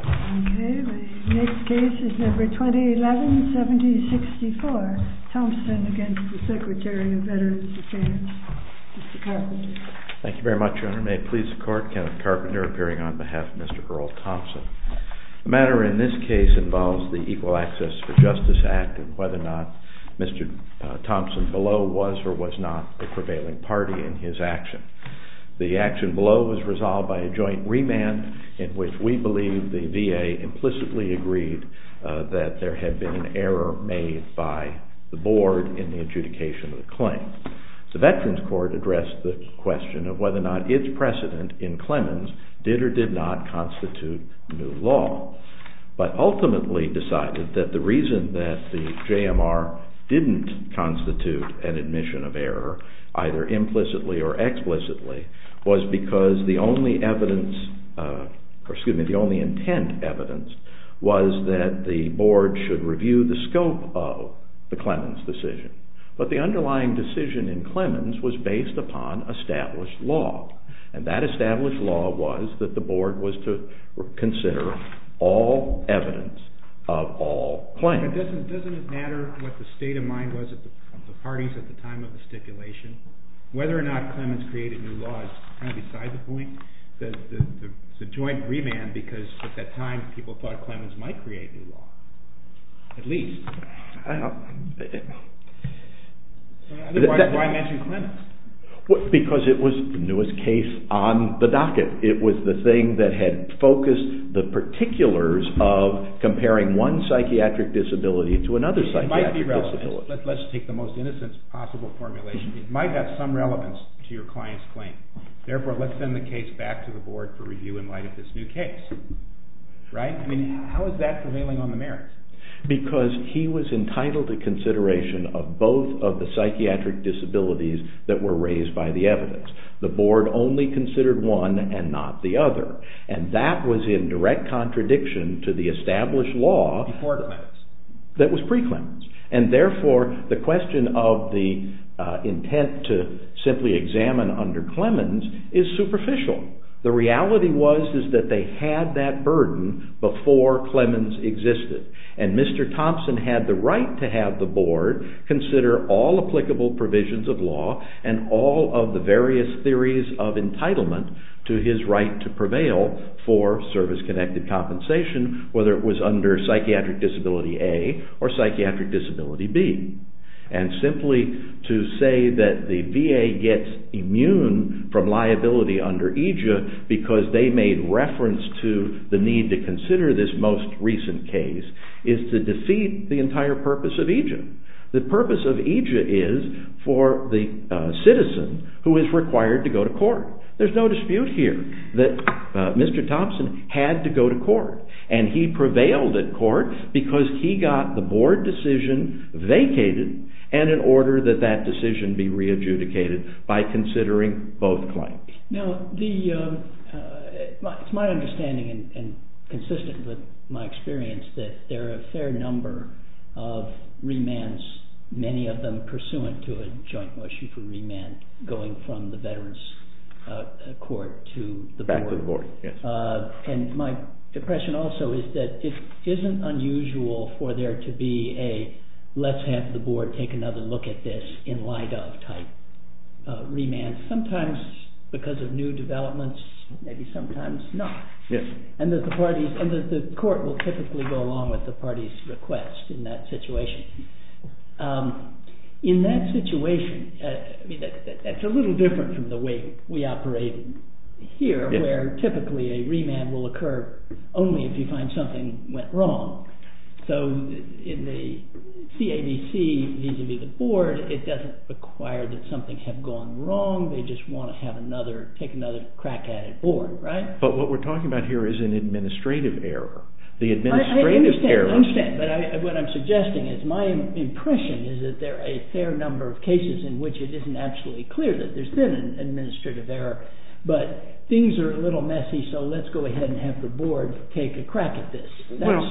Okay, the next case is number 2011-70-64, Thompson against the Secretary of Veterans Affairs, Mr. Carpenter. Thank you very much, Your Honor. May it please the Court, Kenneth Carpenter appearing on behalf of Mr. Earl Thompson. The matter in this case involves the Equal Access for Justice Act and whether or not Mr. Thompson below was or was not a prevailing party in his action. The action below was resolved by a joint remand in which we believe the VA implicitly agreed that there had been an error made by the board in the adjudication of the claim. The Veterans Court addressed the question of whether or not its precedent in Clemens did or did not constitute new law, but ultimately decided that the reason that the JMR didn't constitute an admission of error, either implicitly or explicitly, was because the only evidence, excuse me, the only intent evidence was that the board should review the scope of the Clemens decision. But the underlying decision in Clemens was based upon established law, and that established law was that the board was to consider all evidence of all claims. Doesn't it matter what the state of mind was of the parties at the time of the stipulation? Whether or not Clemens created new law is kind of beside the point, the joint remand, because at that time people thought Clemens might create new law, at least. Why mention Clemens? Because it was the newest case on the docket. It was the thing that had focused the particulars of comparing one psychiatric disability to another psychiatric disability. It might be relevant. Let's take the most innocent possible formulation. It might have some relevance to your client's claim. Therefore, let's send the case back to the board for review in light of this new case. Right? I mean, how is that prevailing on the merits? Because he was entitled to consideration of both of the psychiatric disabilities that were raised by the evidence. The board only considered one and not the other, and that was in direct contradiction to the established law that was pre-Clemens. And therefore, the question of the intent to simply examine under Clemens is superficial. The reality was that they had that burden before Clemens existed. And Mr. Thompson had the right to have the board consider all applicable provisions of law and all of the various theories of entitlement to his right to prevail for service-connected compensation, whether it was under Psychiatric Disability A or Psychiatric Disability B. And simply to say that the VA gets immune from liability under EJIA because they made reference to the need to consider this most recent case is to defeat the entire purpose of EJIA. The purpose of EJIA is for the citizen who is required to go to court. There's no dispute here that Mr. Thompson had to go to court. And he prevailed at court because he got the board decision vacated and in order that that decision be re-adjudicated by considering both claims. Now, it's my understanding and consistent with my experience that there are a fair number of remands, many of them pursuant to a joint Moshefer remand going from the veterans court to the board. Back to the board, yes. And my impression also is that it isn't unusual for there to be a let's have the board take another look at this in light of type remand. Sometimes because of new developments, maybe sometimes not. Yes. And the court will typically go along with the party's request in that situation. In that situation, that's a little different from the way we operate here where typically a remand will occur only if you find something went wrong. So, in the CADC vis-a-vis the board, it doesn't require that something have gone wrong. They just want to have another, take another crack at it board, right? But what we're talking about here is an administrative error. I understand. I understand. But what I'm suggesting is my impression is that there are a fair number of cases in which it isn't absolutely clear that there's been an administrative error. But things are a little messy, so let's go ahead and have the board take a crack at this. Well,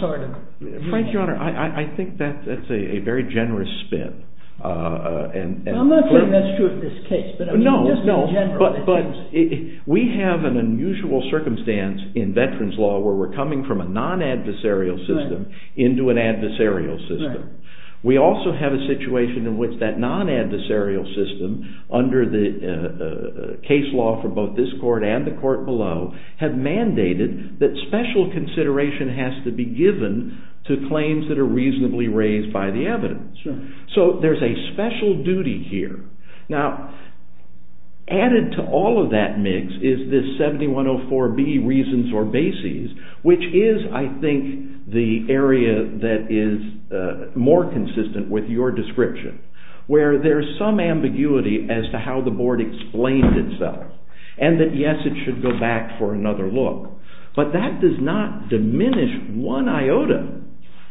Frank, Your Honor, I think that's a very generous spin. I'm not saying that's true of this case. No, no. But we have an unusual circumstance in veterans law where we're coming from a non-adversarial system into an adversarial system. We also have a situation in which that non-adversarial system under the case law for both this court and the court below have mandated that special consideration has to be given to claims that are reasonably raised by the evidence. So, there's a special duty here. Now, added to all of that mix is this 7104B reasons or bases, which is, I think, the area that is more consistent with your description, where there's some ambiguity as to how the board explained itself and that, yes, it should go back for another look. But that does not diminish one iota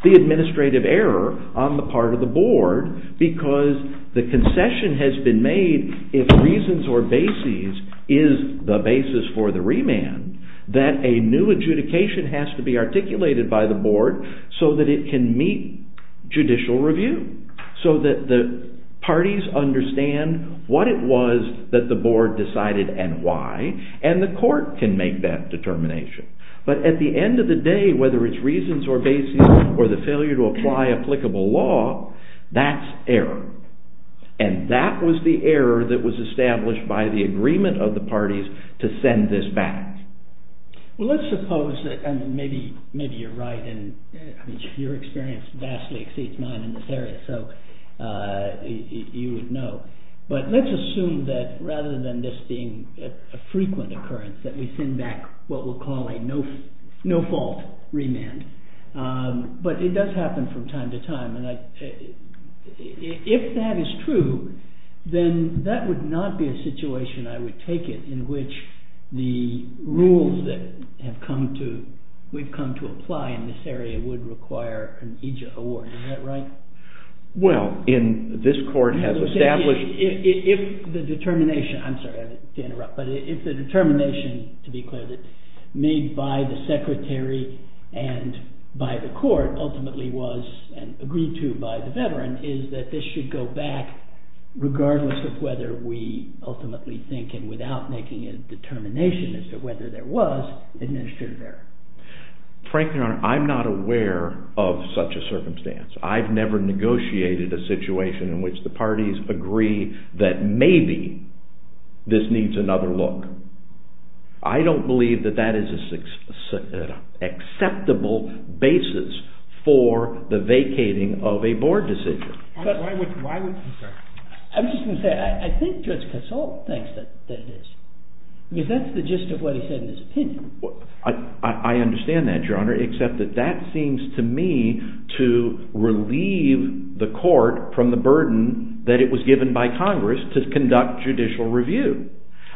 the administrative error on the part of the board because the concession has been made if reasons or bases is the basis for the remand that a new adjudication has to be articulated by the board so that it can meet judicial review, so that the parties understand what it was that the board decided and why, and the court can make that determination. But at the end of the day, whether it's reasons or bases or the failure to apply applicable law, that's error. And that was the error that was established by the agreement of the parties to send this back. Well, let's suppose that maybe you're right and your experience vastly exceeds mine in this area, so you would know. But let's assume that rather than this being a frequent occurrence that we send back what we'll call a no-fault remand. But it does happen from time to time. And if that is true, then that would not be a situation, I would take it, in which the rules that we've come to apply in this area would require an EJA award. Is that right? Well, in this court has established— I'm sorry to interrupt, but if the determination, to be clear, made by the secretary and by the court ultimately was—and agreed to by the veteran— is that this should go back regardless of whether we ultimately think, and without making a determination as to whether there was administrative error. Frankly, Your Honor, I'm not aware of such a circumstance. I've never negotiated a situation in which the parties agree that maybe this needs another look. I don't believe that that is an acceptable basis for the vacating of a board decision. Why would you, sir? I'm just going to say, I think Judge Kasol thinks that it is. I mean, that's the gist of what he said in his opinion. I understand that, Your Honor, except that that seems to me to relieve the court from the burden that it was given by Congress to conduct judicial review.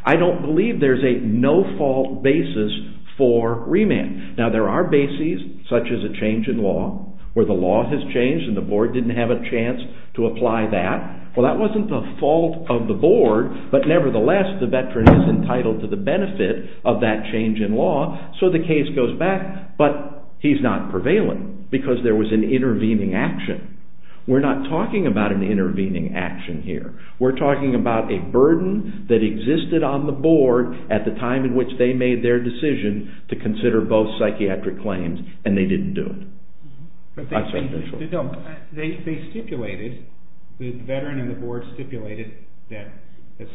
I don't believe there's a no-fault basis for remand. Now, there are bases, such as a change in law, where the law has changed and the board didn't have a chance to apply that. Well, that wasn't the fault of the board, but nevertheless, the veteran is entitled to the benefit of that change in law, so the case goes back. But he's not prevailing because there was an intervening action. We're not talking about an intervening action here. We're talking about a burden that existed on the board at the time in which they made their decision to consider both psychiatric claims, and they didn't do it. They stipulated, the veteran and the board stipulated that the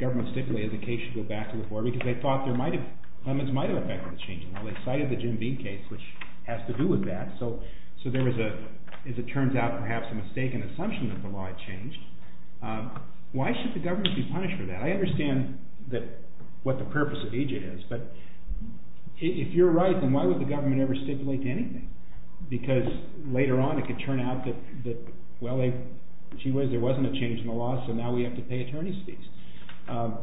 government stipulated the case should go back to the board because they thought there might have, Clemens might have effected the change in law. They cited the Jim Bean case, which has to do with that, so there was a, as it turns out, perhaps a mistaken assumption that the law had changed. Why should the government be punished for that? I understand what the purpose of EJ is, but if you're right, then why would the government ever stipulate anything? Because later on, it could turn out that, well, there wasn't a change in the law, so now we have to pay attorney's fees. I'm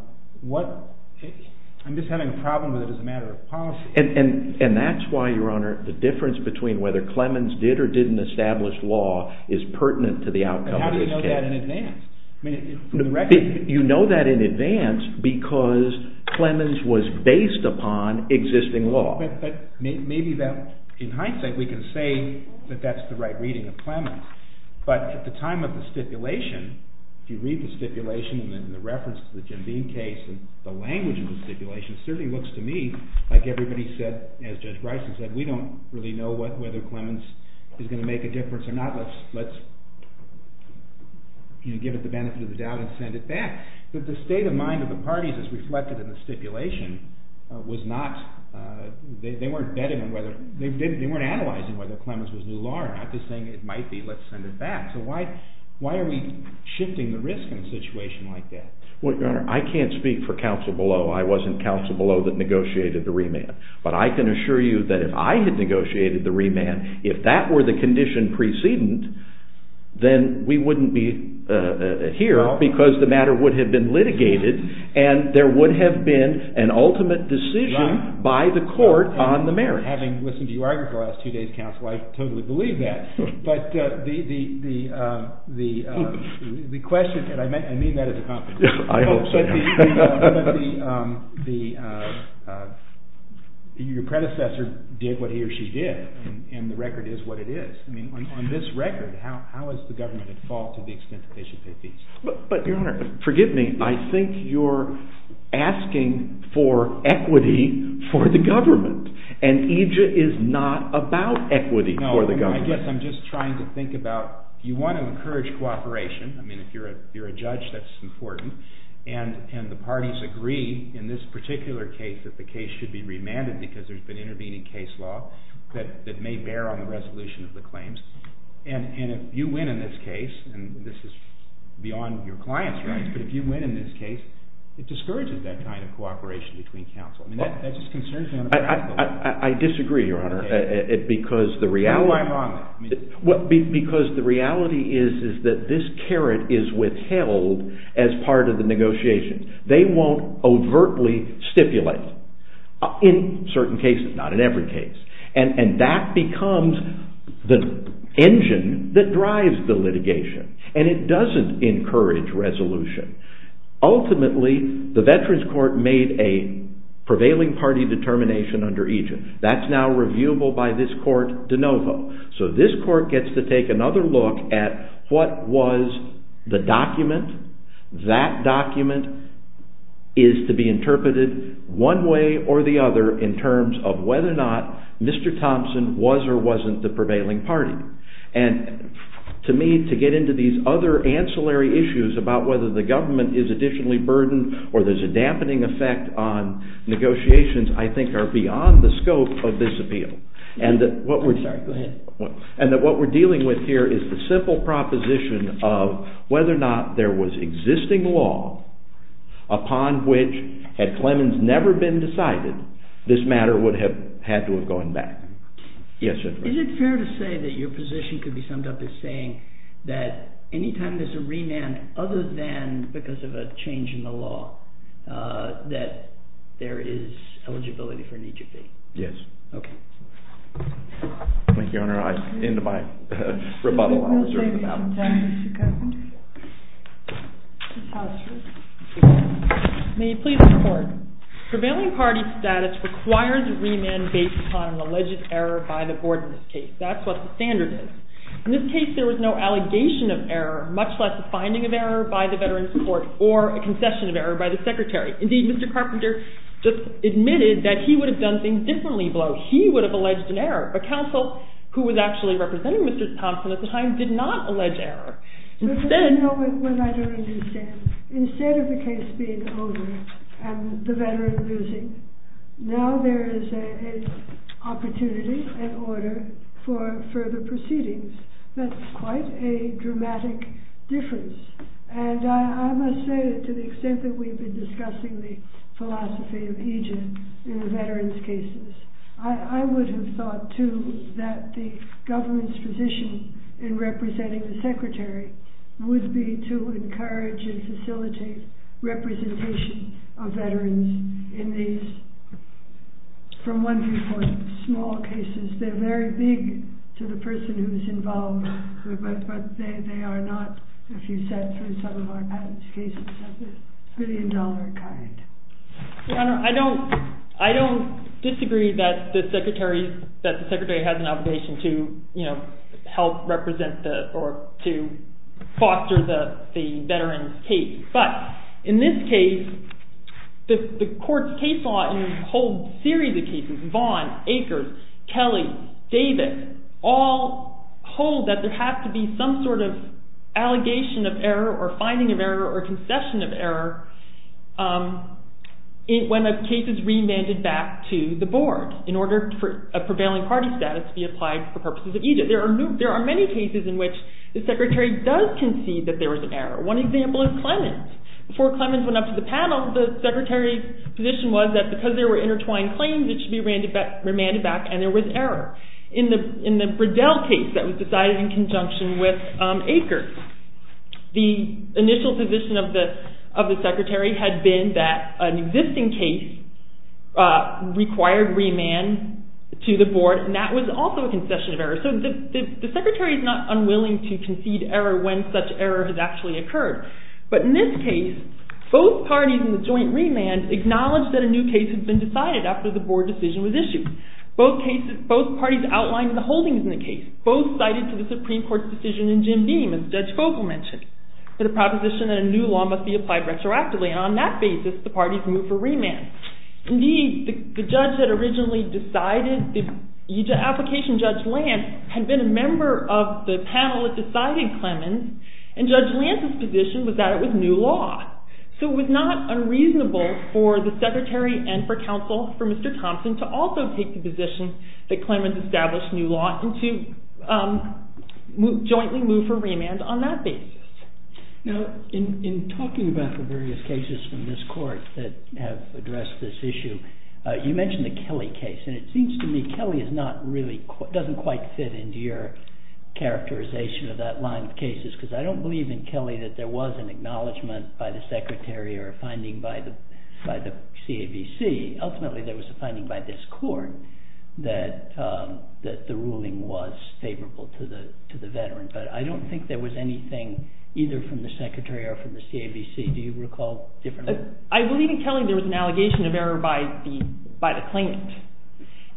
just having a problem with it as a matter of policy. And that's why, Your Honor, the difference between whether Clemens did or didn't establish law is pertinent to the outcome of this case. How do you know that in advance? You know that in advance because Clemens was based upon existing law. But maybe in hindsight, we can say that that's the right reading of Clemens. But at the time of the stipulation, if you read the stipulation and then the reference to the Jim Bean case and the language of the stipulation, it certainly looks to me like everybody said, as Judge Bryson said, we don't really know whether Clemens is going to make a difference or not. Let's give it the benefit of the doubt and send it back. But the state of mind of the parties is reflected in the stipulation. They weren't analyzing whether Clemens was new law or not, just saying it might be, let's send it back. So why are we shifting the risk in a situation like that? Well, Your Honor, I can't speak for counsel below. I wasn't counsel below that negotiated the remand. But I can assure you that if I had negotiated the remand, if that were the condition precedent, then we wouldn't be here because the matter would have been litigated and there would have been an ultimate decision by the court on the merits. Having listened to you argue for the last two days, counsel, I totally believe that. But the question, and I mean that as a compliment. I hope so. Your predecessor did what he or she did and the record is what it is. On this record, how is the government at fault to the extent that they should pay fees? But Your Honor, forgive me, I think you're asking for equity for the government. And EJIA is not about equity for the government. No, I guess I'm just trying to think about you want to encourage cooperation. I mean, if you're a judge, that's important. And the parties agree in this particular case that the case should be remanded because there's been intervening case law that may bear on the resolution of the claims. And if you win in this case, and this is beyond your client's rights, but if you win in this case, it discourages that kind of cooperation between counsel. I mean, that just concerns me on a practical level. No, I'm on it. Because the reality is that this carrot is withheld as part of the negotiation. They won't overtly stipulate in certain cases, not in every case. And that becomes the engine that drives the litigation. And it doesn't encourage resolution. Ultimately, the Veterans Court made a prevailing party determination under EJIA. That's now reviewable by this court de novo. So this court gets to take another look at what was the document. That document is to be interpreted one way or the other in terms of whether or not Mr. Thompson was or wasn't the prevailing party. And to me, to get into these other ancillary issues about whether the government is additionally burdened or there's a dampening effect on negotiations, I think are beyond the scope of this appeal. Sorry, go ahead. And that what we're dealing with here is the simple proposition of whether or not there was existing law upon which, had Clemens never been decided, this matter would have had to have gone back. Is it fair to say that your position could be summed up as saying that any time there's a remand, other than because of a change in the law, that there is eligibility for an EJIA? Yes. Thank you, Your Honor. I end my rebuttal. I'll reserve the balance. Thank you, Mr. Carpenter. Ms. Hollister. May I please report? Prevailing party status requires a remand based upon an alleged error by the board in this case. That's what the standard is. In this case, there was no allegation of error, much less a finding of error by the Veterans Court or a concession of error by the Secretary. Indeed, Mr. Carpenter just admitted that he would have done things differently below. He would have alleged an error. A counsel who was actually representing Mr. Thompson at the time did not allege error. But there's a moment when I don't understand. Instead of the case being over and the veteran losing, now there is an opportunity, an order for further proceedings. That's quite a dramatic difference. And I must say that to the extent that we've been discussing the philosophy of EJIA in the veterans' cases, I would have thought, too, that the government's position in representing the Secretary would be to encourage and facilitate representation of veterans in these, from one viewpoint, small cases. They're very big to the person who is involved, but they are not, if you sat through some of our patent cases, a billion-dollar kind. Your Honor, I don't disagree that the Secretary has an obligation to help represent or to foster the veterans' case. But in this case, the court's case law holds a series of cases, Vaughan, Akers, Kelly, David, all hold that there has to be some sort of allegation of error or finding of error or concession of error when a case is remanded back to the board in order for a prevailing party status to be applied for purposes of EJIA. There are many cases in which the Secretary does concede that there was an error. One example is Clemens. Before Clemens went up to the panel, the Secretary's position was that because there were intertwined claims, it should be remanded back, and there was error. In the Bridell case that was decided in conjunction with Akers, the initial position of the Secretary had been that an existing case required remand to the board, and that was also a concession of error. So the Secretary is not unwilling to concede error when such error has actually occurred. But in this case, both parties in the joint remand acknowledged that a new case had been decided after the board decision was issued. Both parties outlined the holdings in the case. Both cited to the Supreme Court's decision in Jim Beam, as Judge Vogel mentioned, the proposition that a new law must be applied retroactively. And on that basis, the parties moved for remand. Indeed, the application Judge Lance had been a member of the panel that decided Clemens, and Judge Lance's position was that it was new law. So it was not unreasonable for the Secretary and for counsel, for Mr. Thompson, to also take the position that Clemens established new law and to jointly move for remand on that basis. Now, in talking about the various cases from this court that have addressed this issue, you mentioned the Kelly case. And it seems to me Kelly doesn't quite fit into your characterization of that line of cases, because I don't believe in Kelly that there was an acknowledgement by the Secretary or a finding by the CAVC. Ultimately, there was a finding by this court that the ruling was favorable to the veteran. But I don't think there was anything either from the Secretary or from the CAVC. Do you recall differently? I believe in Kelly there was an allegation of error by the claimant.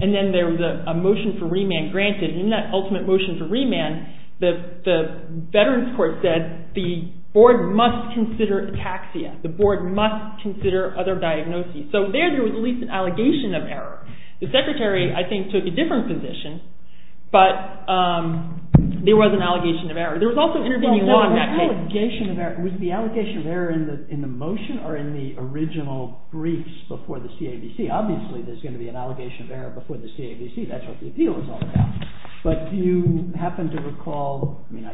And then there was a motion for remand granted. And in that ultimate motion for remand, the Veterans Court said the board must consider ataxia. The board must consider other diagnoses. So there, there was at least an allegation of error. The Secretary, I think, took a different position. But there was an allegation of error. There was also intervening law in that case. Was the allegation of error in the motion or in the original briefs before the CAVC? Obviously, there's going to be an allegation of error before the CAVC. That's what the appeal is all about. But do you happen to recall – I mean,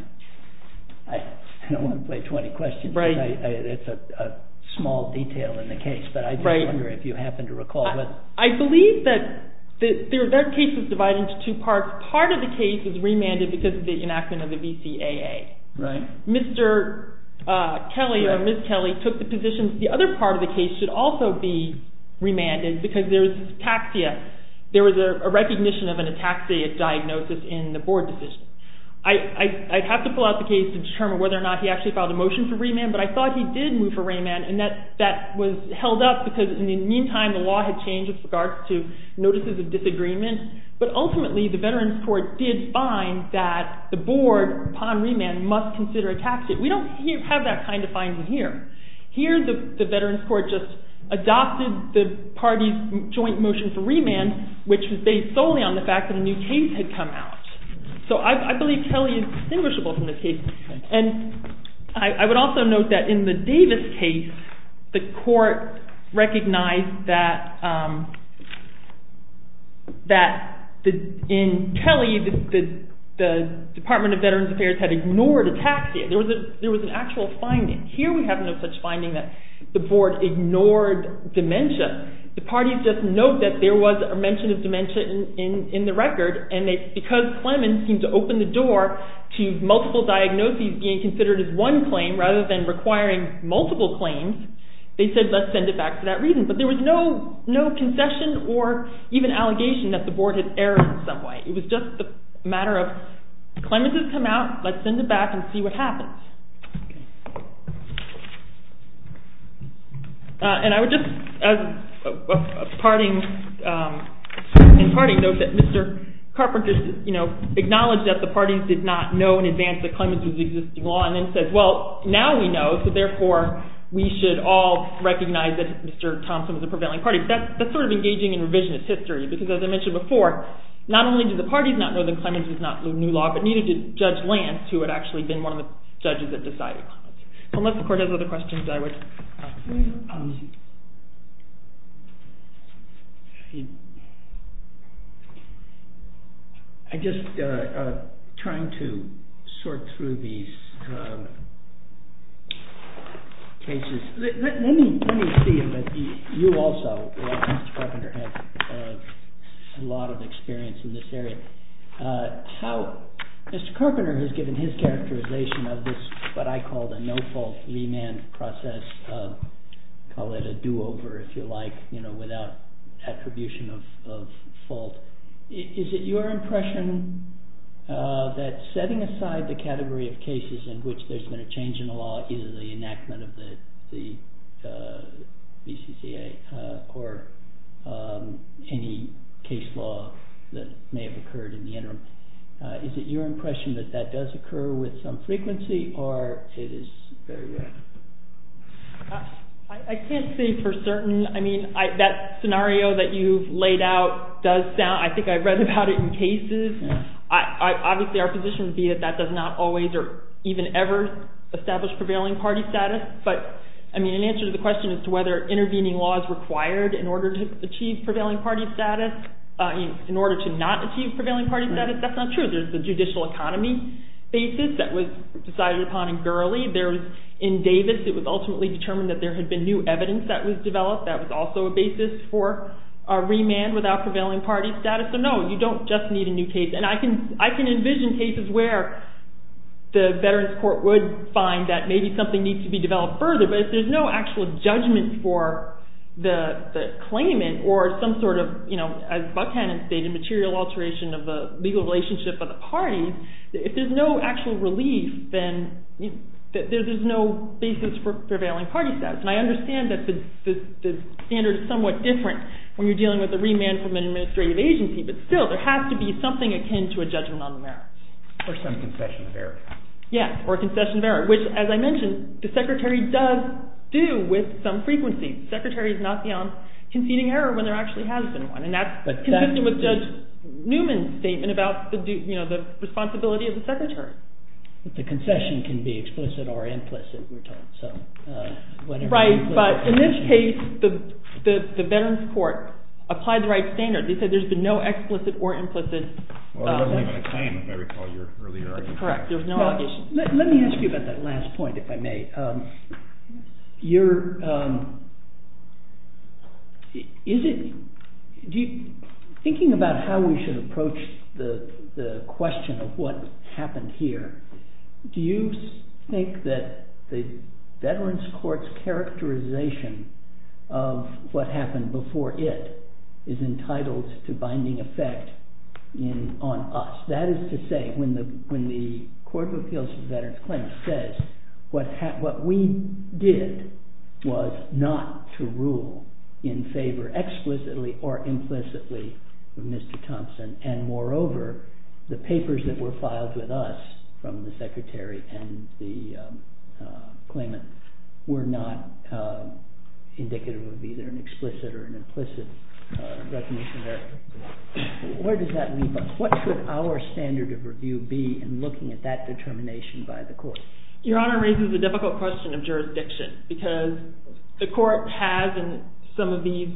I don't want to play 20 questions. It's a small detail in the case. But I wonder if you happen to recall. I believe that there are cases divided into two parts. Part of the case is remanded because of the enactment of the VCAA. Mr. Kelly or Ms. Kelly took the position that the other part of the case should also be remanded because there's ataxia. There was a recognition of an ataxia diagnosis in the board decision. I'd have to pull out the case to determine whether or not he actually filed a motion for remand. But I thought he did move for remand. And that was held up because, in the meantime, the law had changed with regards to notices of disagreement. But ultimately, the Veterans Court did find that the board, upon remand, must consider ataxia. We don't have that kind of finding here. Here, the Veterans Court just adopted the party's joint motion for remand, which was based solely on the fact that a new case had come out. So I believe Kelly is distinguishable from this case. I would also note that in the Davis case, the court recognized that in Kelly, the Department of Veterans Affairs had ignored ataxia. There was an actual finding. Here we have no such finding that the board ignored dementia. The parties just note that there was a mention of dementia in the record, and because Clemens seemed to open the door to multiple diagnoses being considered as one claim rather than requiring multiple claims, they said let's send it back for that reason. But there was no concession or even allegation that the board had erred in some way. It was just a matter of Clemens has come out. Let's send it back and see what happens. And I would just, in parting, note that Mr. Carpenter acknowledged that the parties did not know in advance that Clemens was existing law, and then said, well, now we know, so therefore we should all recognize that Mr. Thompson was a prevailing party. That's sort of engaging in revisionist history, because as I mentioned before, not only did the parties not know that Clemens was not new law, but neither did Judge Lance, who had actually been one of the judges, Unless the court has other questions, I would. I'm just trying to sort through these cases. Let me see if you also, as Mr. Carpenter has a lot of experience in this area, how Mr. Carpenter has given his characterization of this, what I call the no-fault remand process, call it a do-over if you like, without attribution of fault. Is it your impression that setting aside the category of cases in which there's been a change in the law, either the enactment of the BCCA or any case law that may have occurred in the interim, is it your impression that that does occur with some frequency, or it is very rare? I can't say for certain. I mean, that scenario that you've laid out does sound, I think I've read about it in cases. Obviously, our position would be that that does not always or even ever establish prevailing party status, but an answer to the question as to whether intervening law is required in order to achieve prevailing party status, in order to not achieve prevailing party status, that's not true. There's the judicial economy basis that was decided upon in Gurley. In Davis, it was ultimately determined that there had been new evidence that was developed that was also a basis for a remand without prevailing party status. So no, you don't just need a new case. And I can envision cases where the Veterans Court would find that maybe something needs to be developed further, but if there's no actual judgment for the claimant or some sort of, as Buckhannon stated, material alteration of the legal relationship of the parties, if there's no actual relief, then there's no basis for prevailing party status. And I understand that the standard is somewhat different when you're dealing with a remand from an administrative agency, but still, there has to be something akin to a judgment on the merits. Or some concession of error. Yes, or a concession of error, which, as I mentioned, the Secretary does do with some frequency. The Secretary is not beyond conceding error when there actually has been one, and that's consistent with Judge Newman's statement about the responsibility of the Secretary. But the concession can be explicit or implicit, we're told. Right, but in this case, the Veterans Court applied the right standard. They said there's been no explicit or implicit. Well, there wasn't even a claim, if I recall your earlier argument. Correct, there was no objection. Let me ask you about that last point, if I may. Thinking about how we should approach the question of what happened here, do you think that the Veterans Court's characterization of what happened before it is entitled to binding effect on us? That is to say, when the Court of Appeals for Veterans Claims says, what we did was not to rule in favor explicitly or implicitly of Mr. Thompson, and moreover, the papers that were filed with us from the Secretary and the claimant were not indicative of either an explicit or an implicit recognition of error. Where does that leave us? What should our standard of review be in looking at that determination by the Court? Your Honor raises a difficult question of jurisdiction, because the Court has in some of these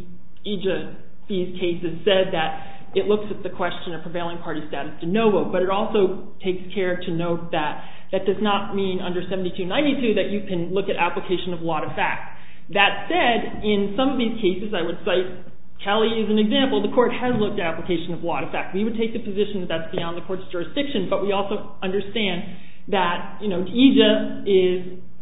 cases said that it looks at the question of prevailing party status de novo, but it also takes care to note that that does not mean under 7292 that you can look at application of lot of facts. That said, in some of these cases, I would cite Kelly as an example. The Court has looked at application of lot of facts. We would take the position that that's beyond the Court's jurisdiction, but we also understand that EJIA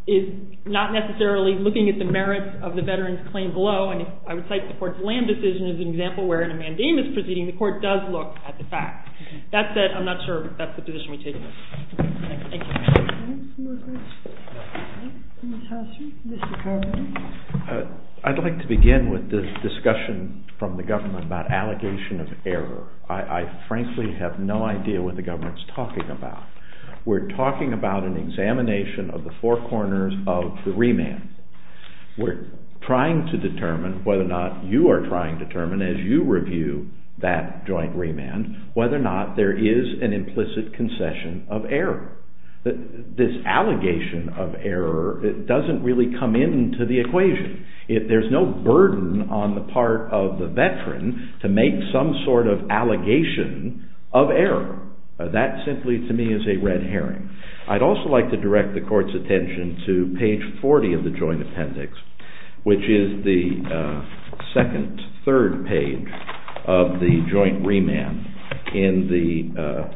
is not necessarily looking at the merits of the Veterans Claim below, and I would cite the Court's land decision as an example where in a mandamus proceeding, the Court does look at the facts. That said, I'm not sure that's the position we take. Thank you. Thank you. I'd like to begin with the discussion from the government about allegation of error. I frankly have no idea what the government's talking about. We're talking about an examination of the four corners of the remand. We're trying to determine whether or not you are trying to determine, as you review that joint remand, whether or not there is an implicit concession of error. This allegation of error doesn't really come into the equation. There's no burden on the part of the Veteran to make some sort of allegation of error. That simply, to me, is a red herring. I'd also like to direct the Court's attention to page 40 of the joint appendix, which is the second-third page of the joint remand in the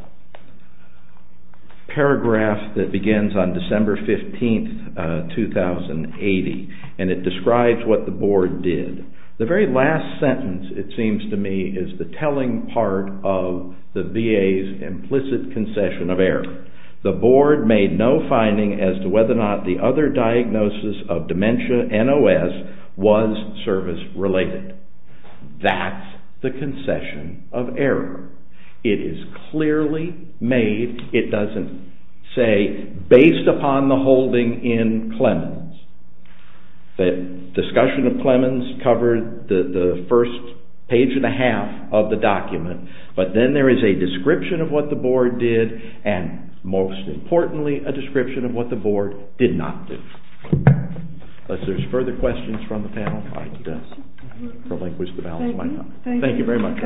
paragraph that begins on December 15, 2080, and it describes what the Board did. The very last sentence, it seems to me, is the telling part of the VA's implicit concession of error. The Board made no finding as to whether or not the other diagnosis of dementia, NOS, was service-related. That's the concession of error. It is clearly made, it doesn't say, based upon the holding in Clemens. The discussion of Clemens covered the first page and a half of the document, but then there is a description of what the Board did and, most importantly, a description of what the Board did not do. Unless there are further questions from the panel, I will relinquish the balance of my time. Thank you very much.